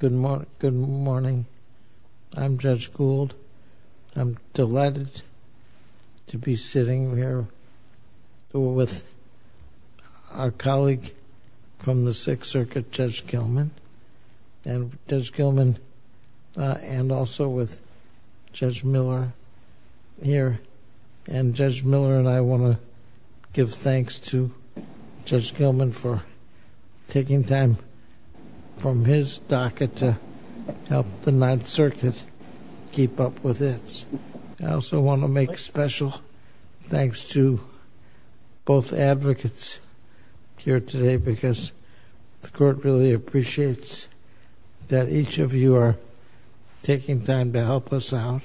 Good morning. I'm Judge Gould. I'm delighted to be sitting here with our colleague from the Sixth Circuit, Judge Gilman, and also with Judge Miller here. And Judge Miller and I want to give thanks to Judge Gilman for taking time from his docket to help the Ninth Circuit keep up with this. I also want to make special thanks to both advocates here today because the court really appreciates that each of you are taking time to help us out.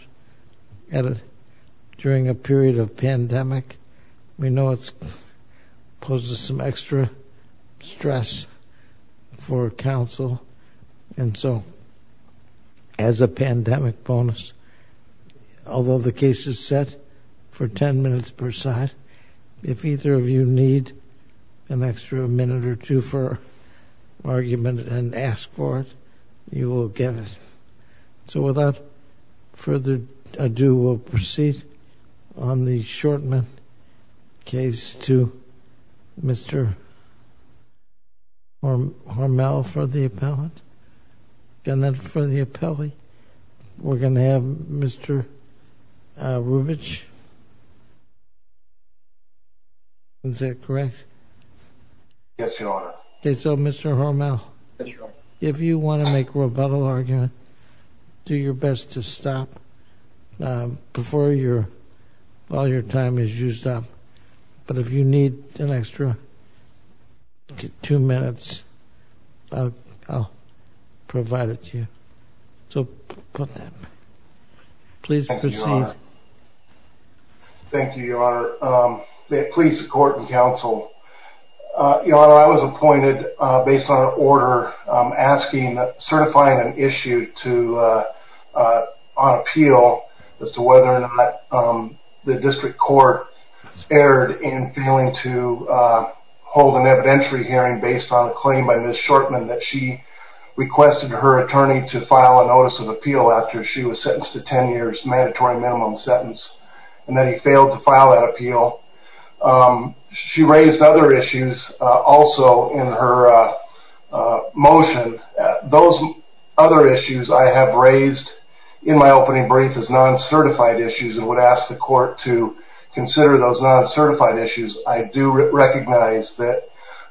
During a period of pandemic, we know it poses some extra stress for counsel. And so as a pandemic bonus, although the case is set for 10 minutes per side, if either of you need an extra minute or two for argument and ask for it, you will get it. So without further ado, we'll proceed on the Shortman case to Mr. Hormel for the appellant. And then for the appellee, we're going to have Mr. Rubich. Is that correct? Yes, Your Honor. Okay, so Mr. Hormel, if you want to make a rebuttal argument, do your best to stop before your all your time is used up. But if you need an extra two minutes, I'll provide it to you. So please proceed. Thank you, Your Honor. Please support and counsel. Your Honor, I was appointed based on an order asking certifying an issue to on appeal as to whether or not the district court erred in failing to hold an evidentiary hearing based on a claim by Ms. Shortman that she requested her attorney to file a notice of appeal after she was sentenced to 10 years mandatory minimum sentence and that he failed to file that appeal. She raised other issues also in her motion. Those other issues I have raised in my opening brief is non-certified issues and would ask the court to consider those non-certified issues. I do recognize that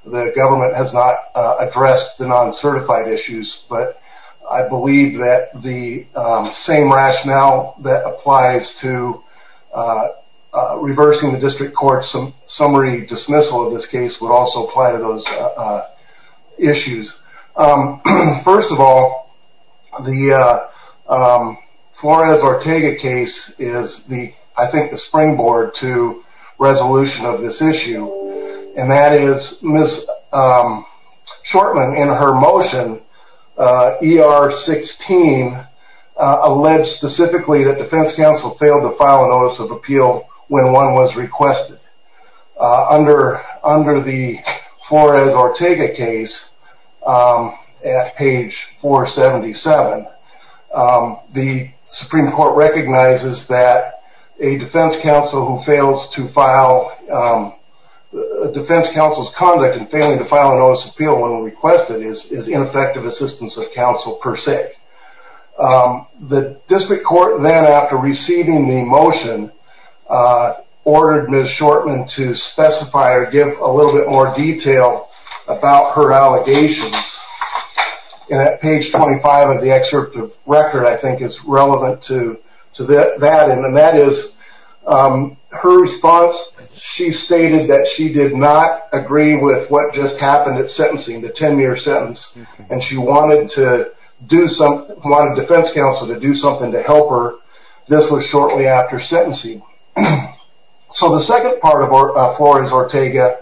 the government has not addressed the non-certified issues, but I believe that applies to reversing the district court's summary dismissal of this case would also apply to those issues. First of all, the Flores-Ortega case is the, I think, the springboard to resolution of this issue. And that is Ms. Shortman, in her motion, ER-16, alleged specifically that defense counsel failed to file a notice of appeal when one was requested. Under the Flores-Ortega case, at page 477, the Supreme Court recognizes that a defense counsel who fails to file, defense counsel's conduct in failing to file a notice of appeal when requested is ineffective assistance of counsel per se. The district court then, after receiving the motion, ordered Ms. Shortman to specify or give a little bit more detail about her allegations. And at page 25 of the excerpt of record, I think is relevant to that, and that is her response. She stated that she did not agree with what just happened at sentencing, the 10-year sentence, and she wanted defense counsel to do something to help her. This was shortly after sentencing. So the second part of Flores-Ortega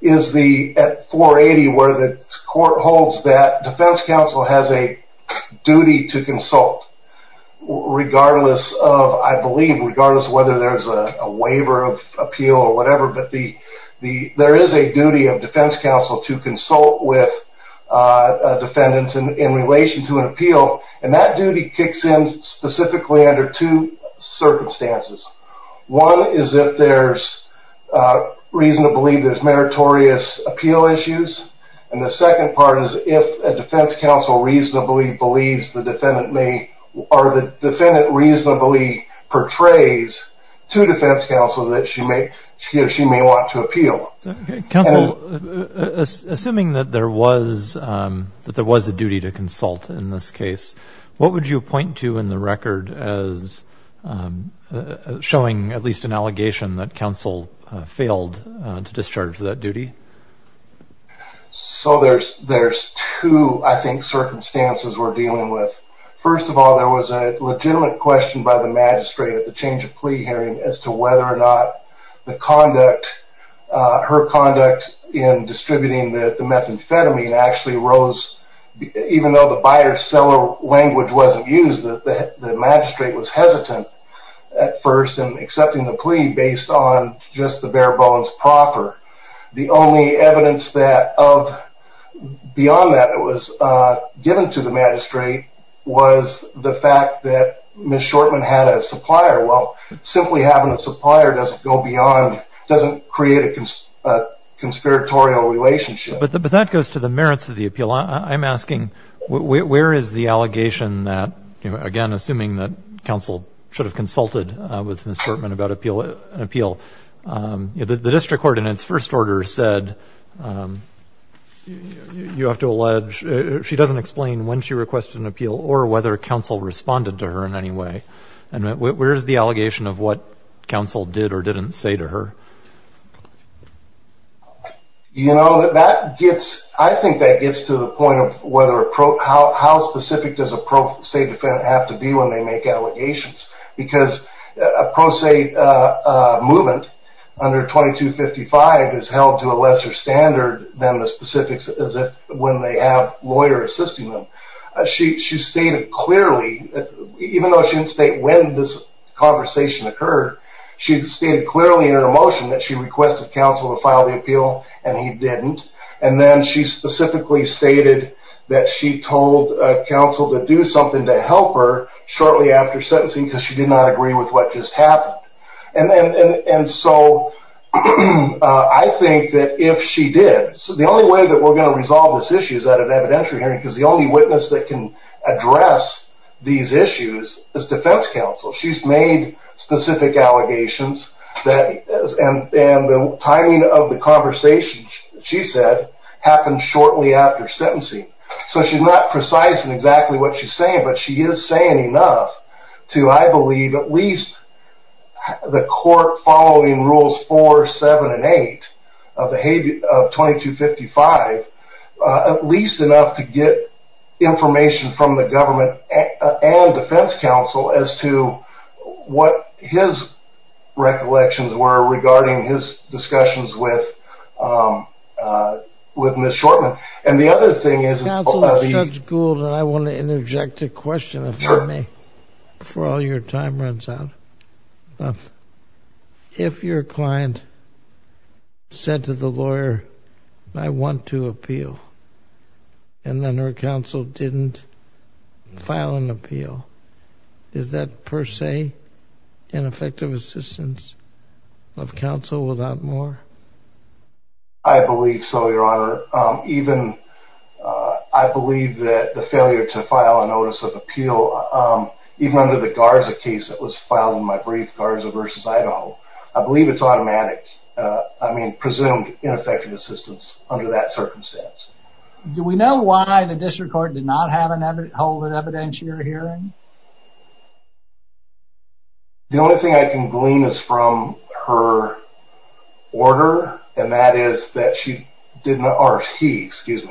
is the, at 480, where the court holds that defense counsel has a duty to consult, regardless of, I believe, regardless of whether there's a waiver of appeal or whatever, but there is a duty of defense counsel to consult with defendants in relation to an appeal, and that duty kicks in specifically under two circumstances. One is if there's reason to believe there's meritorious appeal issues, and the second part is if a defense counsel reasonably believes the defendant may, or the defendant reasonably portrays to defense counsel that she may want to appeal. Counsel, assuming that there was a duty to consult in this case, what would you point to in the record as showing at least an allegation that counsel failed to discharge that duty? So there's two, I think, circumstances we're dealing with. First of all, there was a legitimate question by the magistrate at the change of plea hearing as to whether or not the conduct, her conduct in distributing the methamphetamine actually rose, even though the buyer-seller language wasn't used, the magistrate was hesitant at first in accepting the plea based on just the bare bones proper. The only evidence that of, beyond that that was given to the magistrate was the fact that Ms. Shortman had a supplier. Well, simply having a supplier doesn't go beyond, doesn't create a conspiratorial relationship. But that goes to the merits of the appeal. I'm asking, where is the allegation that, again, assuming that counsel should have consulted with Ms. Shortman about an appeal, the district court in its first order said, you have to allege, she doesn't explain when she requested an appeal or whether counsel responded to her in any way. Where is the allegation of what counsel did or didn't say to her? You know, that gets, I think that gets to the point of whether, how specific does a pro se defendant have to be when they make allegations? Because a pro se movement under 2255 is held to a lesser standard than the specifics as to when they have lawyers assisting them. She stated clearly, even though she didn't state when this conversation occurred, she stated clearly in her motion that she requested counsel to file the appeal and he didn't. And then she specifically stated that she told counsel to do something to help her shortly after sentencing because she did not agree with what just happened. And so I think that if she did, the only way that we're going to resolve this issue is at an evidentiary hearing because the only witness that can address these issues is defense counsel. She's made specific allegations that, and the timing of the conversation she said happened shortly after sentencing. So she's not precise in exactly what she's saying, but she is saying enough to, I believe, at least the court following rules 4, 7, and 8 of 2255, at least enough to get information from the government and defense counsel as to what his recollections were regarding his discussions with Ms. Shortman. And the other thing is... Counsel, Judge Gould and I want to interject a question, if you may, before all your time runs out. If your client said to the lawyer, I want to appeal, and then her counsel didn't file an appeal, is that per se an effective assistance of counsel without more? I believe so, Your Honor. I believe that the failure to file a notice of appeal, even under the Garza case that was filed in my brief, Garza v. Idaho, I believe it's automatic, I mean presumed ineffective assistance under that circumstance. Do we know why the district court did not hold an evidentiary hearing? The only thing I can glean is from her order, and that is that she did not, or he, excuse the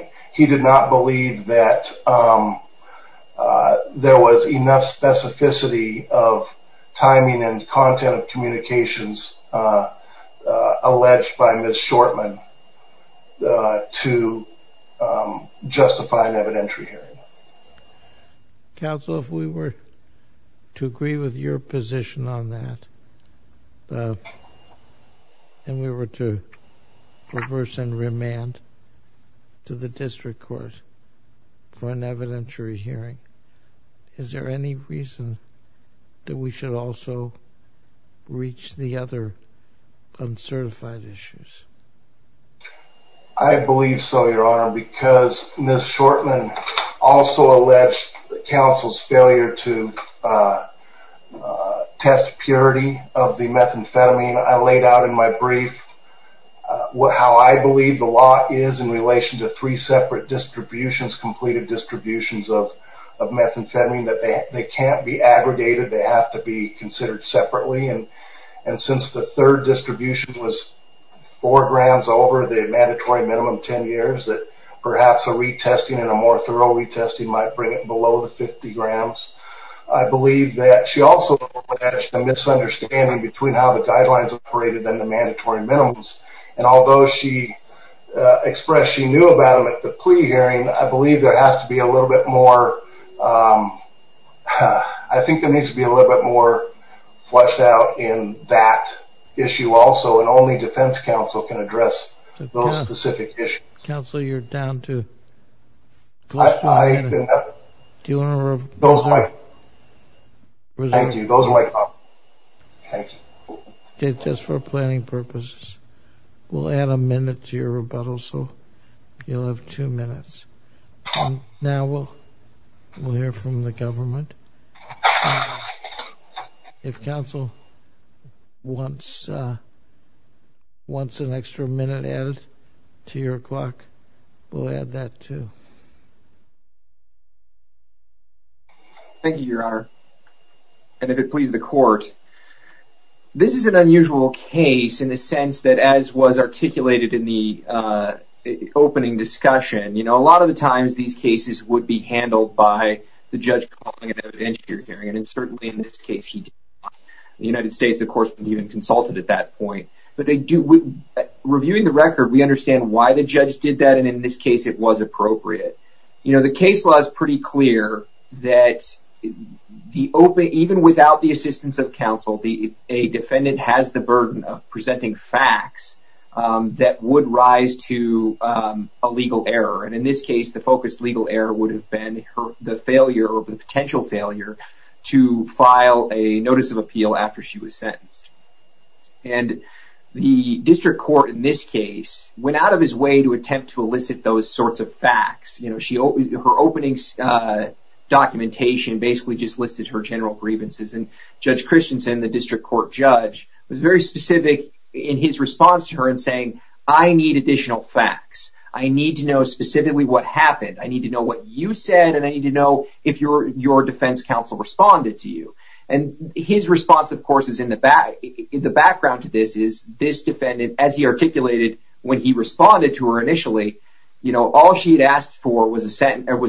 complexity of timing and content of communications alleged by Ms. Shortman to justify an evidentiary hearing. Counsel, if we were to agree with your position on that, and we were to reverse and remand to the district court for an evidentiary hearing, is there any reason that we should also reach the other uncertified issues? I believe so, Your Honor, because Ms. Shortman also alleged counsel's failure to test purity of the methamphetamine I laid out in my brief, how I believe the law is in relation to three separate distributions, completed distributions of methamphetamine, that they can't be aggregated, they have to be considered separately, and since the third distribution was four grams over the mandatory minimum ten years, that perhaps a retesting and a more thorough retesting might bring it below the 50 grams. I believe that she also alleged a misunderstanding between how the guidelines operated and the mandatory minimums, and although she expressed she knew about them at the plea hearing, I believe there has to be a little bit more, I think there needs to be a little bit more fleshed out in that issue also, and only defense counsel can address those specific issues. Counsel, you're down to... I didn't have it. Do you want to... Those are my... Thank you. Those are my thoughts. Thank you. Okay, just for planning purposes, we'll add a minute to your rebuttal, so you'll have two minutes, and now we'll hear from the government. And if counsel wants an extra minute added to your clock, we'll add that too. Thank you, your honor, and if it pleases the court, this is an unusual case in the sense that as was articulated in the opening discussion, you know, a lot of the times these cases would be handled by the judge calling it evidentiary hearing, and certainly in this case, he did not. The United States, of course, didn't even consult it at that point, but they do... Reviewing the record, we understand why the judge did that, and in this case, it was appropriate. You know, the case law is pretty clear that even without the assistance of counsel, a defendant has the burden of presenting facts that would rise to a legal error, and in this case, the focused legal error would have been the failure or the potential failure to file a notice of appeal after she was sentenced. And the district court in this case went out of his way to attempt to elicit those sorts of facts. You know, her opening documentation basically just listed her general grievances, and Judge Christensen, the district court judge, was very specific in his response to her in saying, I need additional facts. I need to know specifically what happened. I need to know what you said, and I need to know if your defense counsel responded to you. And his response, of course, is in the background to this, is this defendant, as he articulated when he responded to her initially, you know, all she had asked for was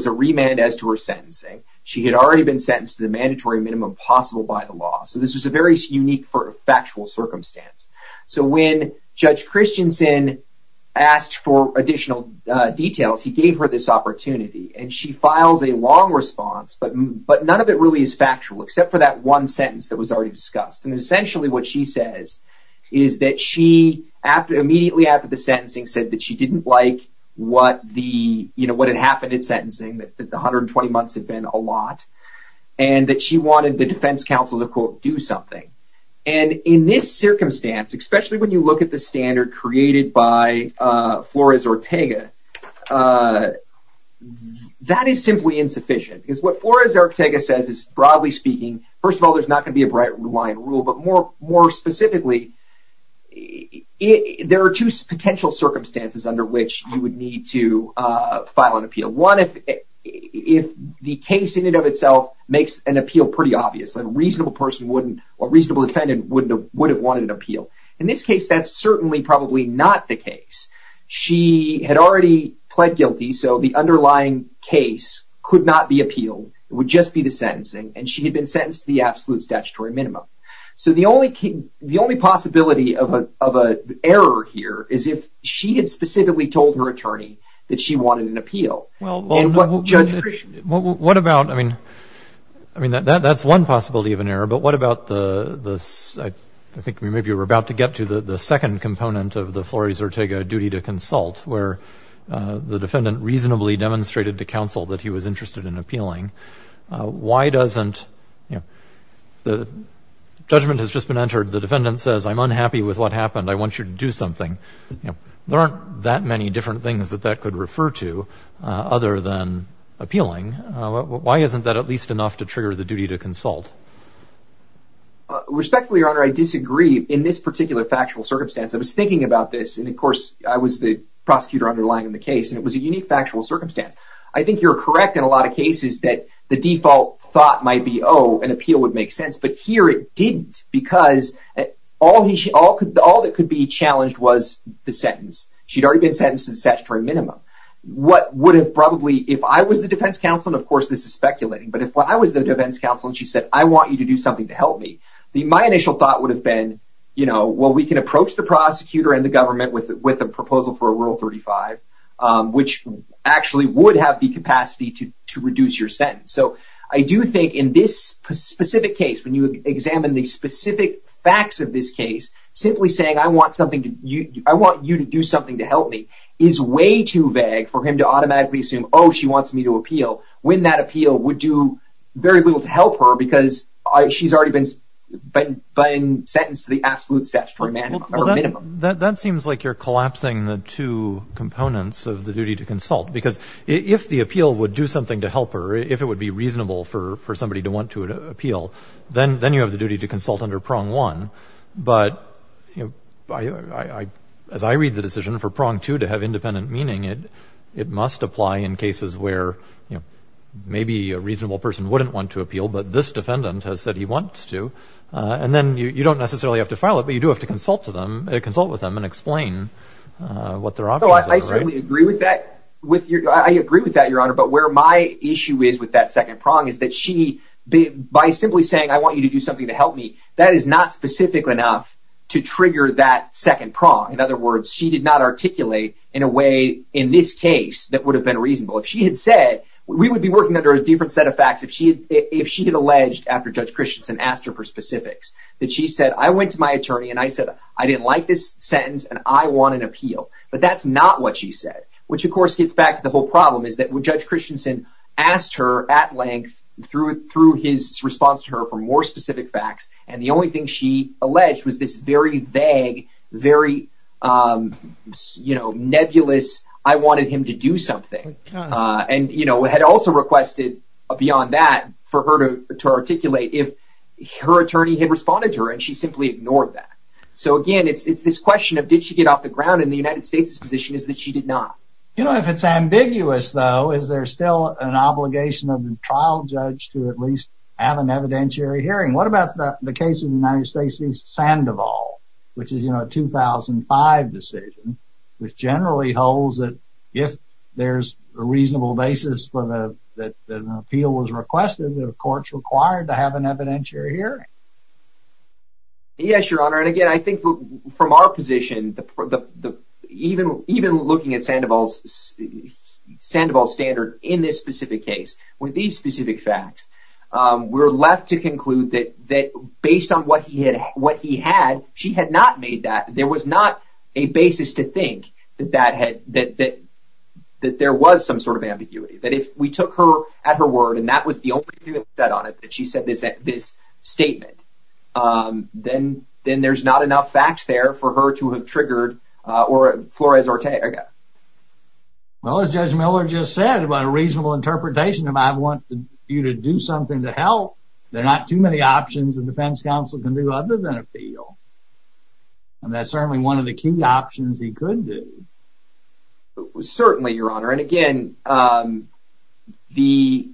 a remand as to her sentencing. She had already been sentenced to the mandatory minimum possible by the law. So this was a very unique factual circumstance. So when Judge Christensen asked for additional details, he gave her this opportunity, and she files a long response, but none of it really is factual except for that one sentence that was already discussed. And essentially what she says is that she, immediately after the sentencing, said that she didn't like what the, you know, what had happened in sentencing, that the 120 months had been a lot, and that she wanted the defense counsel to, quote, do something. And in this circumstance, especially when you look at the standard created by Flores-Ortega, that is simply insufficient. Because what Flores-Ortega says is, broadly speaking, first of all, there's not going to be a bright line rule, but more specifically, there are two potential circumstances under which you would need to file an appeal. One, if the case in and of itself makes an appeal pretty obvious, a reasonable person wouldn't, a reasonable defendant wouldn't have, would have wanted an appeal. In this case, that's certainly probably not the case. She had already pled guilty, so the underlying case could not be appealed, it would just be the sentencing, and she had been sentenced to the absolute statutory minimum. So the only possibility of an error here is if she had specifically told her attorney that she wanted an appeal. Well, what about, I mean, I mean, that's one possibility of an error, but what about the, I think maybe we're about to get to the second component of the Flores-Ortega duty to consult, where the defendant reasonably demonstrated to counsel that he was interested in appealing. Why doesn't, you know, the judgment has just been entered, the defendant says, I'm unhappy with what happened, I want you to do something. There aren't that many different things that that could refer to other than appealing. Why isn't that at least enough to trigger the duty to consult? Respectfully, Your Honor, I disagree in this particular factual circumstance. I was thinking about this, and of course I was the prosecutor underlying the case, and it was a unique factual circumstance. I think you're correct in a lot of cases that the default thought might be, oh, an appeal would make sense, but here it didn't, because all that could be challenged was the sentence. She'd already been sentenced to the statutory minimum. What would have probably, if I was the defense counsel, and of course this is speculating, but if I was the defense counsel and she said, I want you to do something to help me, my initial thought would have been, you know, well, we can approach the prosecutor and the government with a proposal for a Rule 35, which actually would have the capacity to reduce your sentence. So I do think in this specific case, when you examine the specific facts of this case, simply saying, I want you to do something to help me, is way too vague for him to automatically assume, oh, she wants me to appeal, when that appeal would do very little to help her, because she's already been sentenced to the absolute statutory minimum. That seems like you're collapsing the two components of the duty to consult, because if the appeal would do something to help her, if it would be reasonable for somebody to want to appeal, then you have the duty to consult under Prong 1, but as I read the decision for Prong 2 to have independent meaning, it must apply in cases where maybe a reasonable person wouldn't want to appeal, but this defendant has said he wants to, and then you don't necessarily have to file it, but you do have to consult with them and explain what their options are. I certainly agree with that, Your Honor, but where my issue is with that second prong is that she, by simply saying, I want you to do something to help me, that is not specific enough to trigger that second prong. In other words, she did not articulate in a way in this case that would have been reasonable. If she had said, we would be working under a different set of facts, if she had alleged after Judge Christensen asked her for specifics, that she said, I went to my attorney and I said, I didn't like this sentence, and I want an appeal, but that's not what she said, which of course gets back to the whole problem, is that when Judge Christensen asked her at length through his response to her for more specific facts, and the only thing she alleged was this very vague, very nebulous, I wanted him to do something, and had also requested, beyond that, for her to articulate if her attorney had responded to her, and she simply ignored that. So again, it's this question of did she get off the ground, and the United States' position is that she did not. You know, if it's ambiguous, though, is there still an obligation of the trial judge to at least have an evidentiary hearing? What about the case of the United States v. Sandoval, which is a 2005 decision, which generally holds that if there's a reasonable basis that an appeal was requested, the court's required to have an evidentiary hearing. Yes, Your Honor, and again, I think from our position, even looking at Sandoval's standard in this specific case, with these specific facts, we're left to conclude that based on what he had, she had not made that, there was not a basis to think that there was some sort of ambiguity. That if we took her at her word, and that was the only thing that was said on it, that she said this statement, then there's not enough facts there for her to have triggered or Flores Ortega. Well, as Judge Miller just said, by a reasonable interpretation, if I want you to do something to help, there are not too many options a defense counsel can do other than appeal, and that's certainly one of the key options he could do. Certainly, Your Honor, and again, the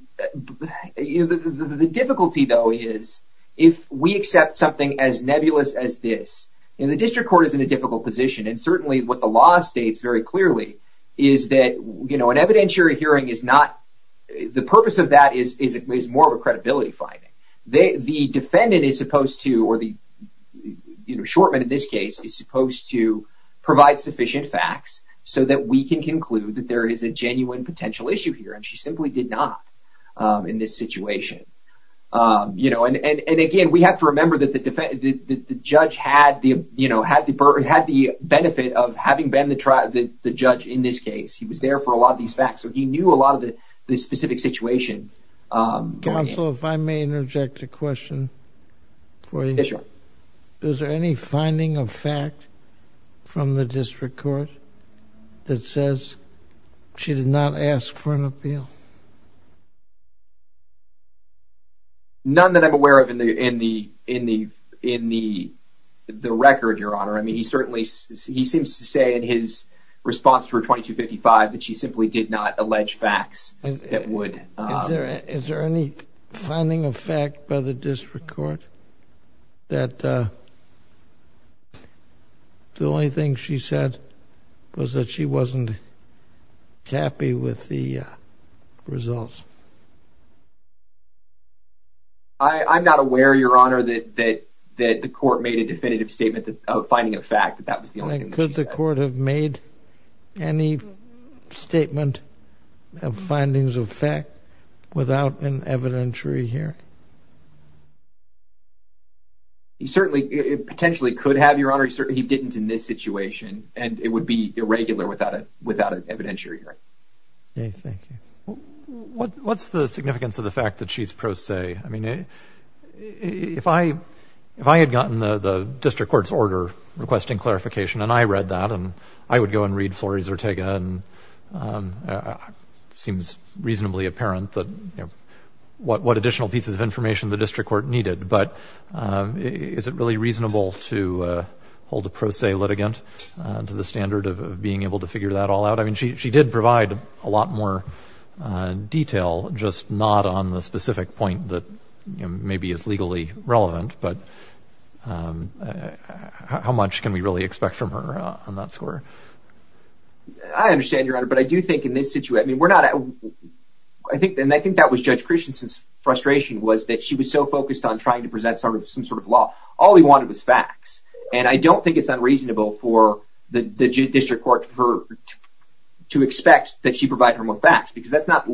difficulty, though, is if we accept something as nebulous as this, and the district court is in a difficult position, and certainly what the law states very clearly is that an evidentiary hearing is not, the purpose of that is more of a credibility finding. The defendant is supposed to, or the shortman in this case, is supposed to provide sufficient facts so that we can conclude that there is a genuine potential issue here, and she simply did not in this situation, and again, we have to remember that the judge had the benefit of having been the judge in this case. He was there for a lot of these facts, so he knew a lot of the specific situation. Counsel, if I may interject a question for you. Yes, Your Honor. Is there any finding of fact from the district court that says she did not ask for an appeal? None that I'm aware of in the record, Your Honor. I mean, he certainly, he seems to say in his response to her 2255 that she simply did not allege facts that would. Is there any finding of fact by the district court that the only thing she said was that she wasn't happy with the results? I'm not aware, Your Honor, that the court made a definitive statement of finding of Could the court have made any statement of findings of fact without an evidentiary hearing? He certainly, it potentially could have, Your Honor, he didn't in this situation, and it would be irregular without an evidentiary hearing. Okay, thank you. What's the significance of the fact that she's pro se? I mean, if I had gotten the district court's order requesting clarification and I read that and I would go and read Flores-Urtega and it seems reasonably apparent that what additional pieces of information the district court needed, but is it really reasonable to hold a pro se litigant to the standard of being able to figure that all out? I mean, she did provide a lot more detail, just not on the specific point that maybe is legally relevant, but how much can we really expect from her on that score? I understand, Your Honor, but I do think in this situation, I mean, we're not, I think and I think that was Judge Christianson's frustration was that she was so focused on trying to present some sort of law. All he wanted was facts. And I don't think it's unreasonable for the district court to expect that she provide her more facts because that's not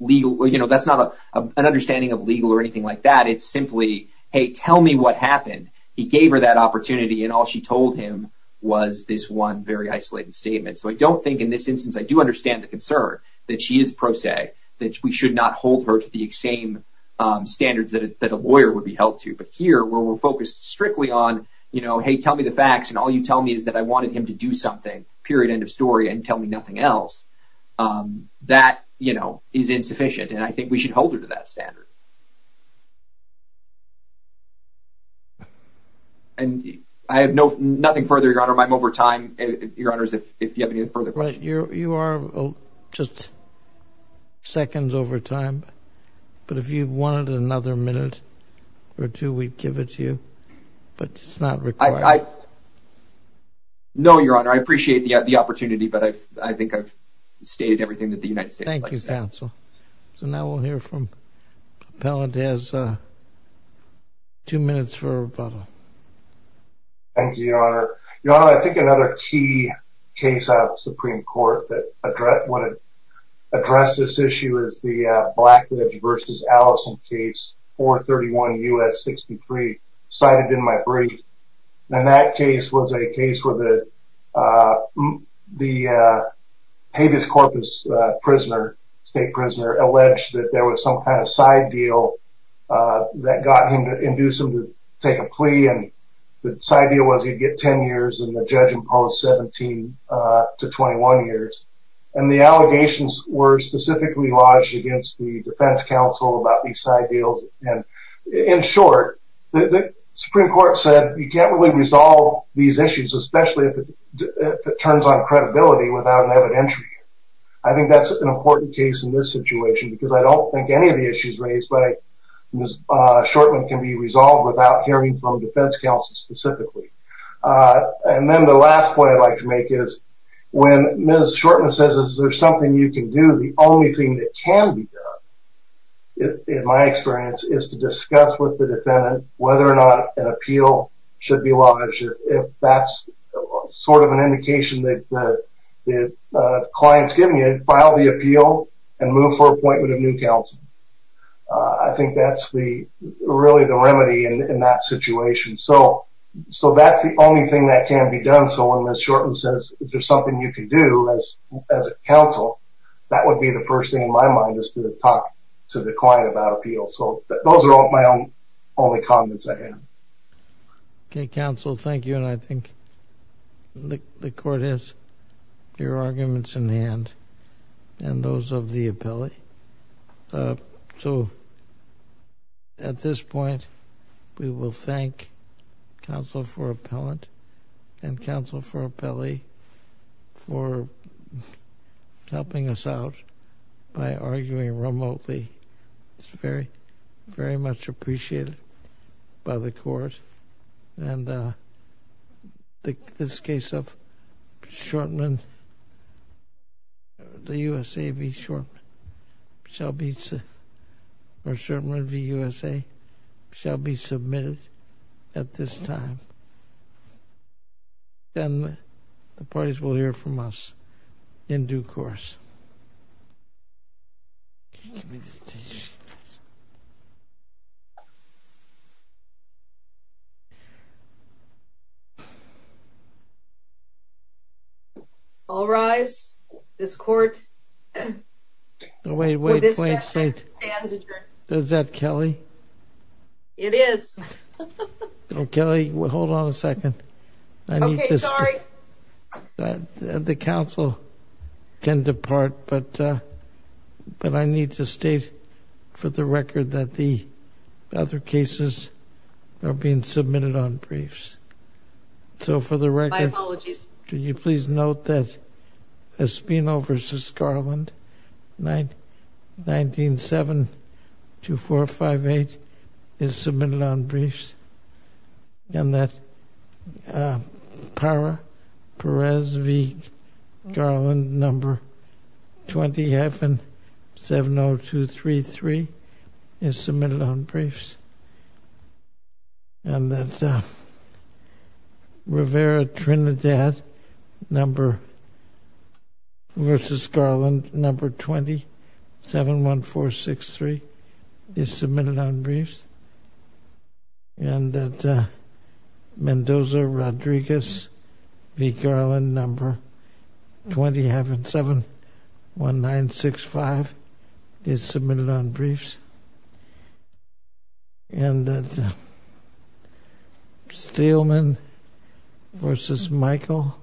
legal, that's not an understanding of legal or anything like that. It's simply, hey, tell me what happened. He gave her that opportunity and all she told him was this one very isolated statement. So I don't think in this instance, I do understand the concern that she is pro se, that we should not hold her to the same standards that a lawyer would be held to. But here, where we're focused strictly on, you know, hey, tell me the facts and all you tell me is that I wanted him to do something, period, end of story and tell me nothing else. That, you know, is insufficient and I think we should hold her to that standard. And I have no, nothing further, Your Honor, I'm over time, Your Honors, if you have any further questions. All right. You are just seconds over time, but if you wanted another minute or two, we'd give it to you, but it's not required. No, Your Honor, I appreciate the opportunity, but I think I've stated everything that the United States would like to say. Thank you, counsel. So now we'll hear from Appellant, he has two minutes for rebuttal. Thank you, Your Honor. Your Honor, I think another key case out of the Supreme Court that addressed this issue is the Blackledge v. Allison case, 431 U.S. 63, cited in my brief. And that case was a case where the habeas corpus prisoner, state prisoner, alleged that there was some kind of side deal that got him to induce him to take a plea and the side deals were 17 years and the judge imposed 17 to 21 years. And the allegations were specifically lodged against the defense counsel about these side deals. And in short, the Supreme Court said, you can't really resolve these issues, especially if it turns on credibility without an evidentiary. I think that's an important case in this situation because I don't think any of the issues raised by Ms. Shortman can be resolved without hearing from defense counsel specifically. And then the last point I'd like to make is, when Ms. Shortman says, is there something you can do, the only thing that can be done, in my experience, is to discuss with the defendant whether or not an appeal should be lodged, if that's sort of an indication that the client's opinion, file the appeal and move for appointment of new counsel. I think that's really the remedy in that situation. So that's the only thing that can be done, so when Ms. Shortman says, is there something you can do as a counsel, that would be the first thing in my mind is to talk to the client about appeal. So those are my only comments I have. Okay, counsel, thank you, and I think the court has your arguments in hand and those of the appellee. So at this point, we will thank counsel for appellant and counsel for appellee for helping us out by arguing remotely. It's very, very much appreciated by the court and this case of Shortman, the USA v. Shortman, shall be, or Shortman v. USA, shall be submitted at this time and the parties will hear from us in due course. Give me the tissue. All rise. This court for this session stands adjourned. Wait, wait, wait, wait. Is that Kelly? It is. Kelly, hold on a second. Okay, sorry. The counsel can depart, but I need to state for the record that the other cases are being submitted on briefs. So for the record, could you please note that Espino v. Scarland, 19-72458, is submitted on briefs, and that Parra v. Scarland, number 2770233, is submitted on briefs, and that Mendoza-Rodriguez v. Garland, number 2771965, is submitted on briefs, and that Steelman v. Michael,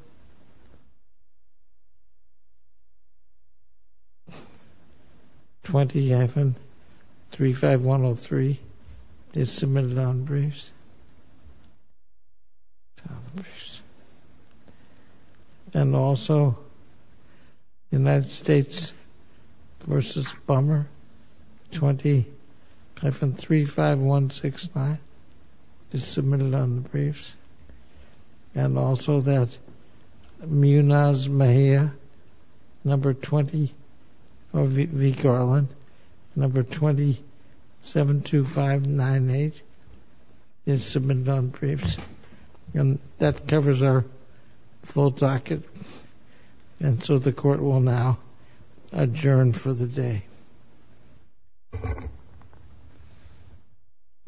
20-35103, is submitted on briefs, and also United States v. Bummer, 20-35169, is submitted on briefs, and also that Munoz-Mejia v. Garland, number 272598, is submitted on briefs, and that covers our full docket, and so the court will now adjourn for the day. Thank you.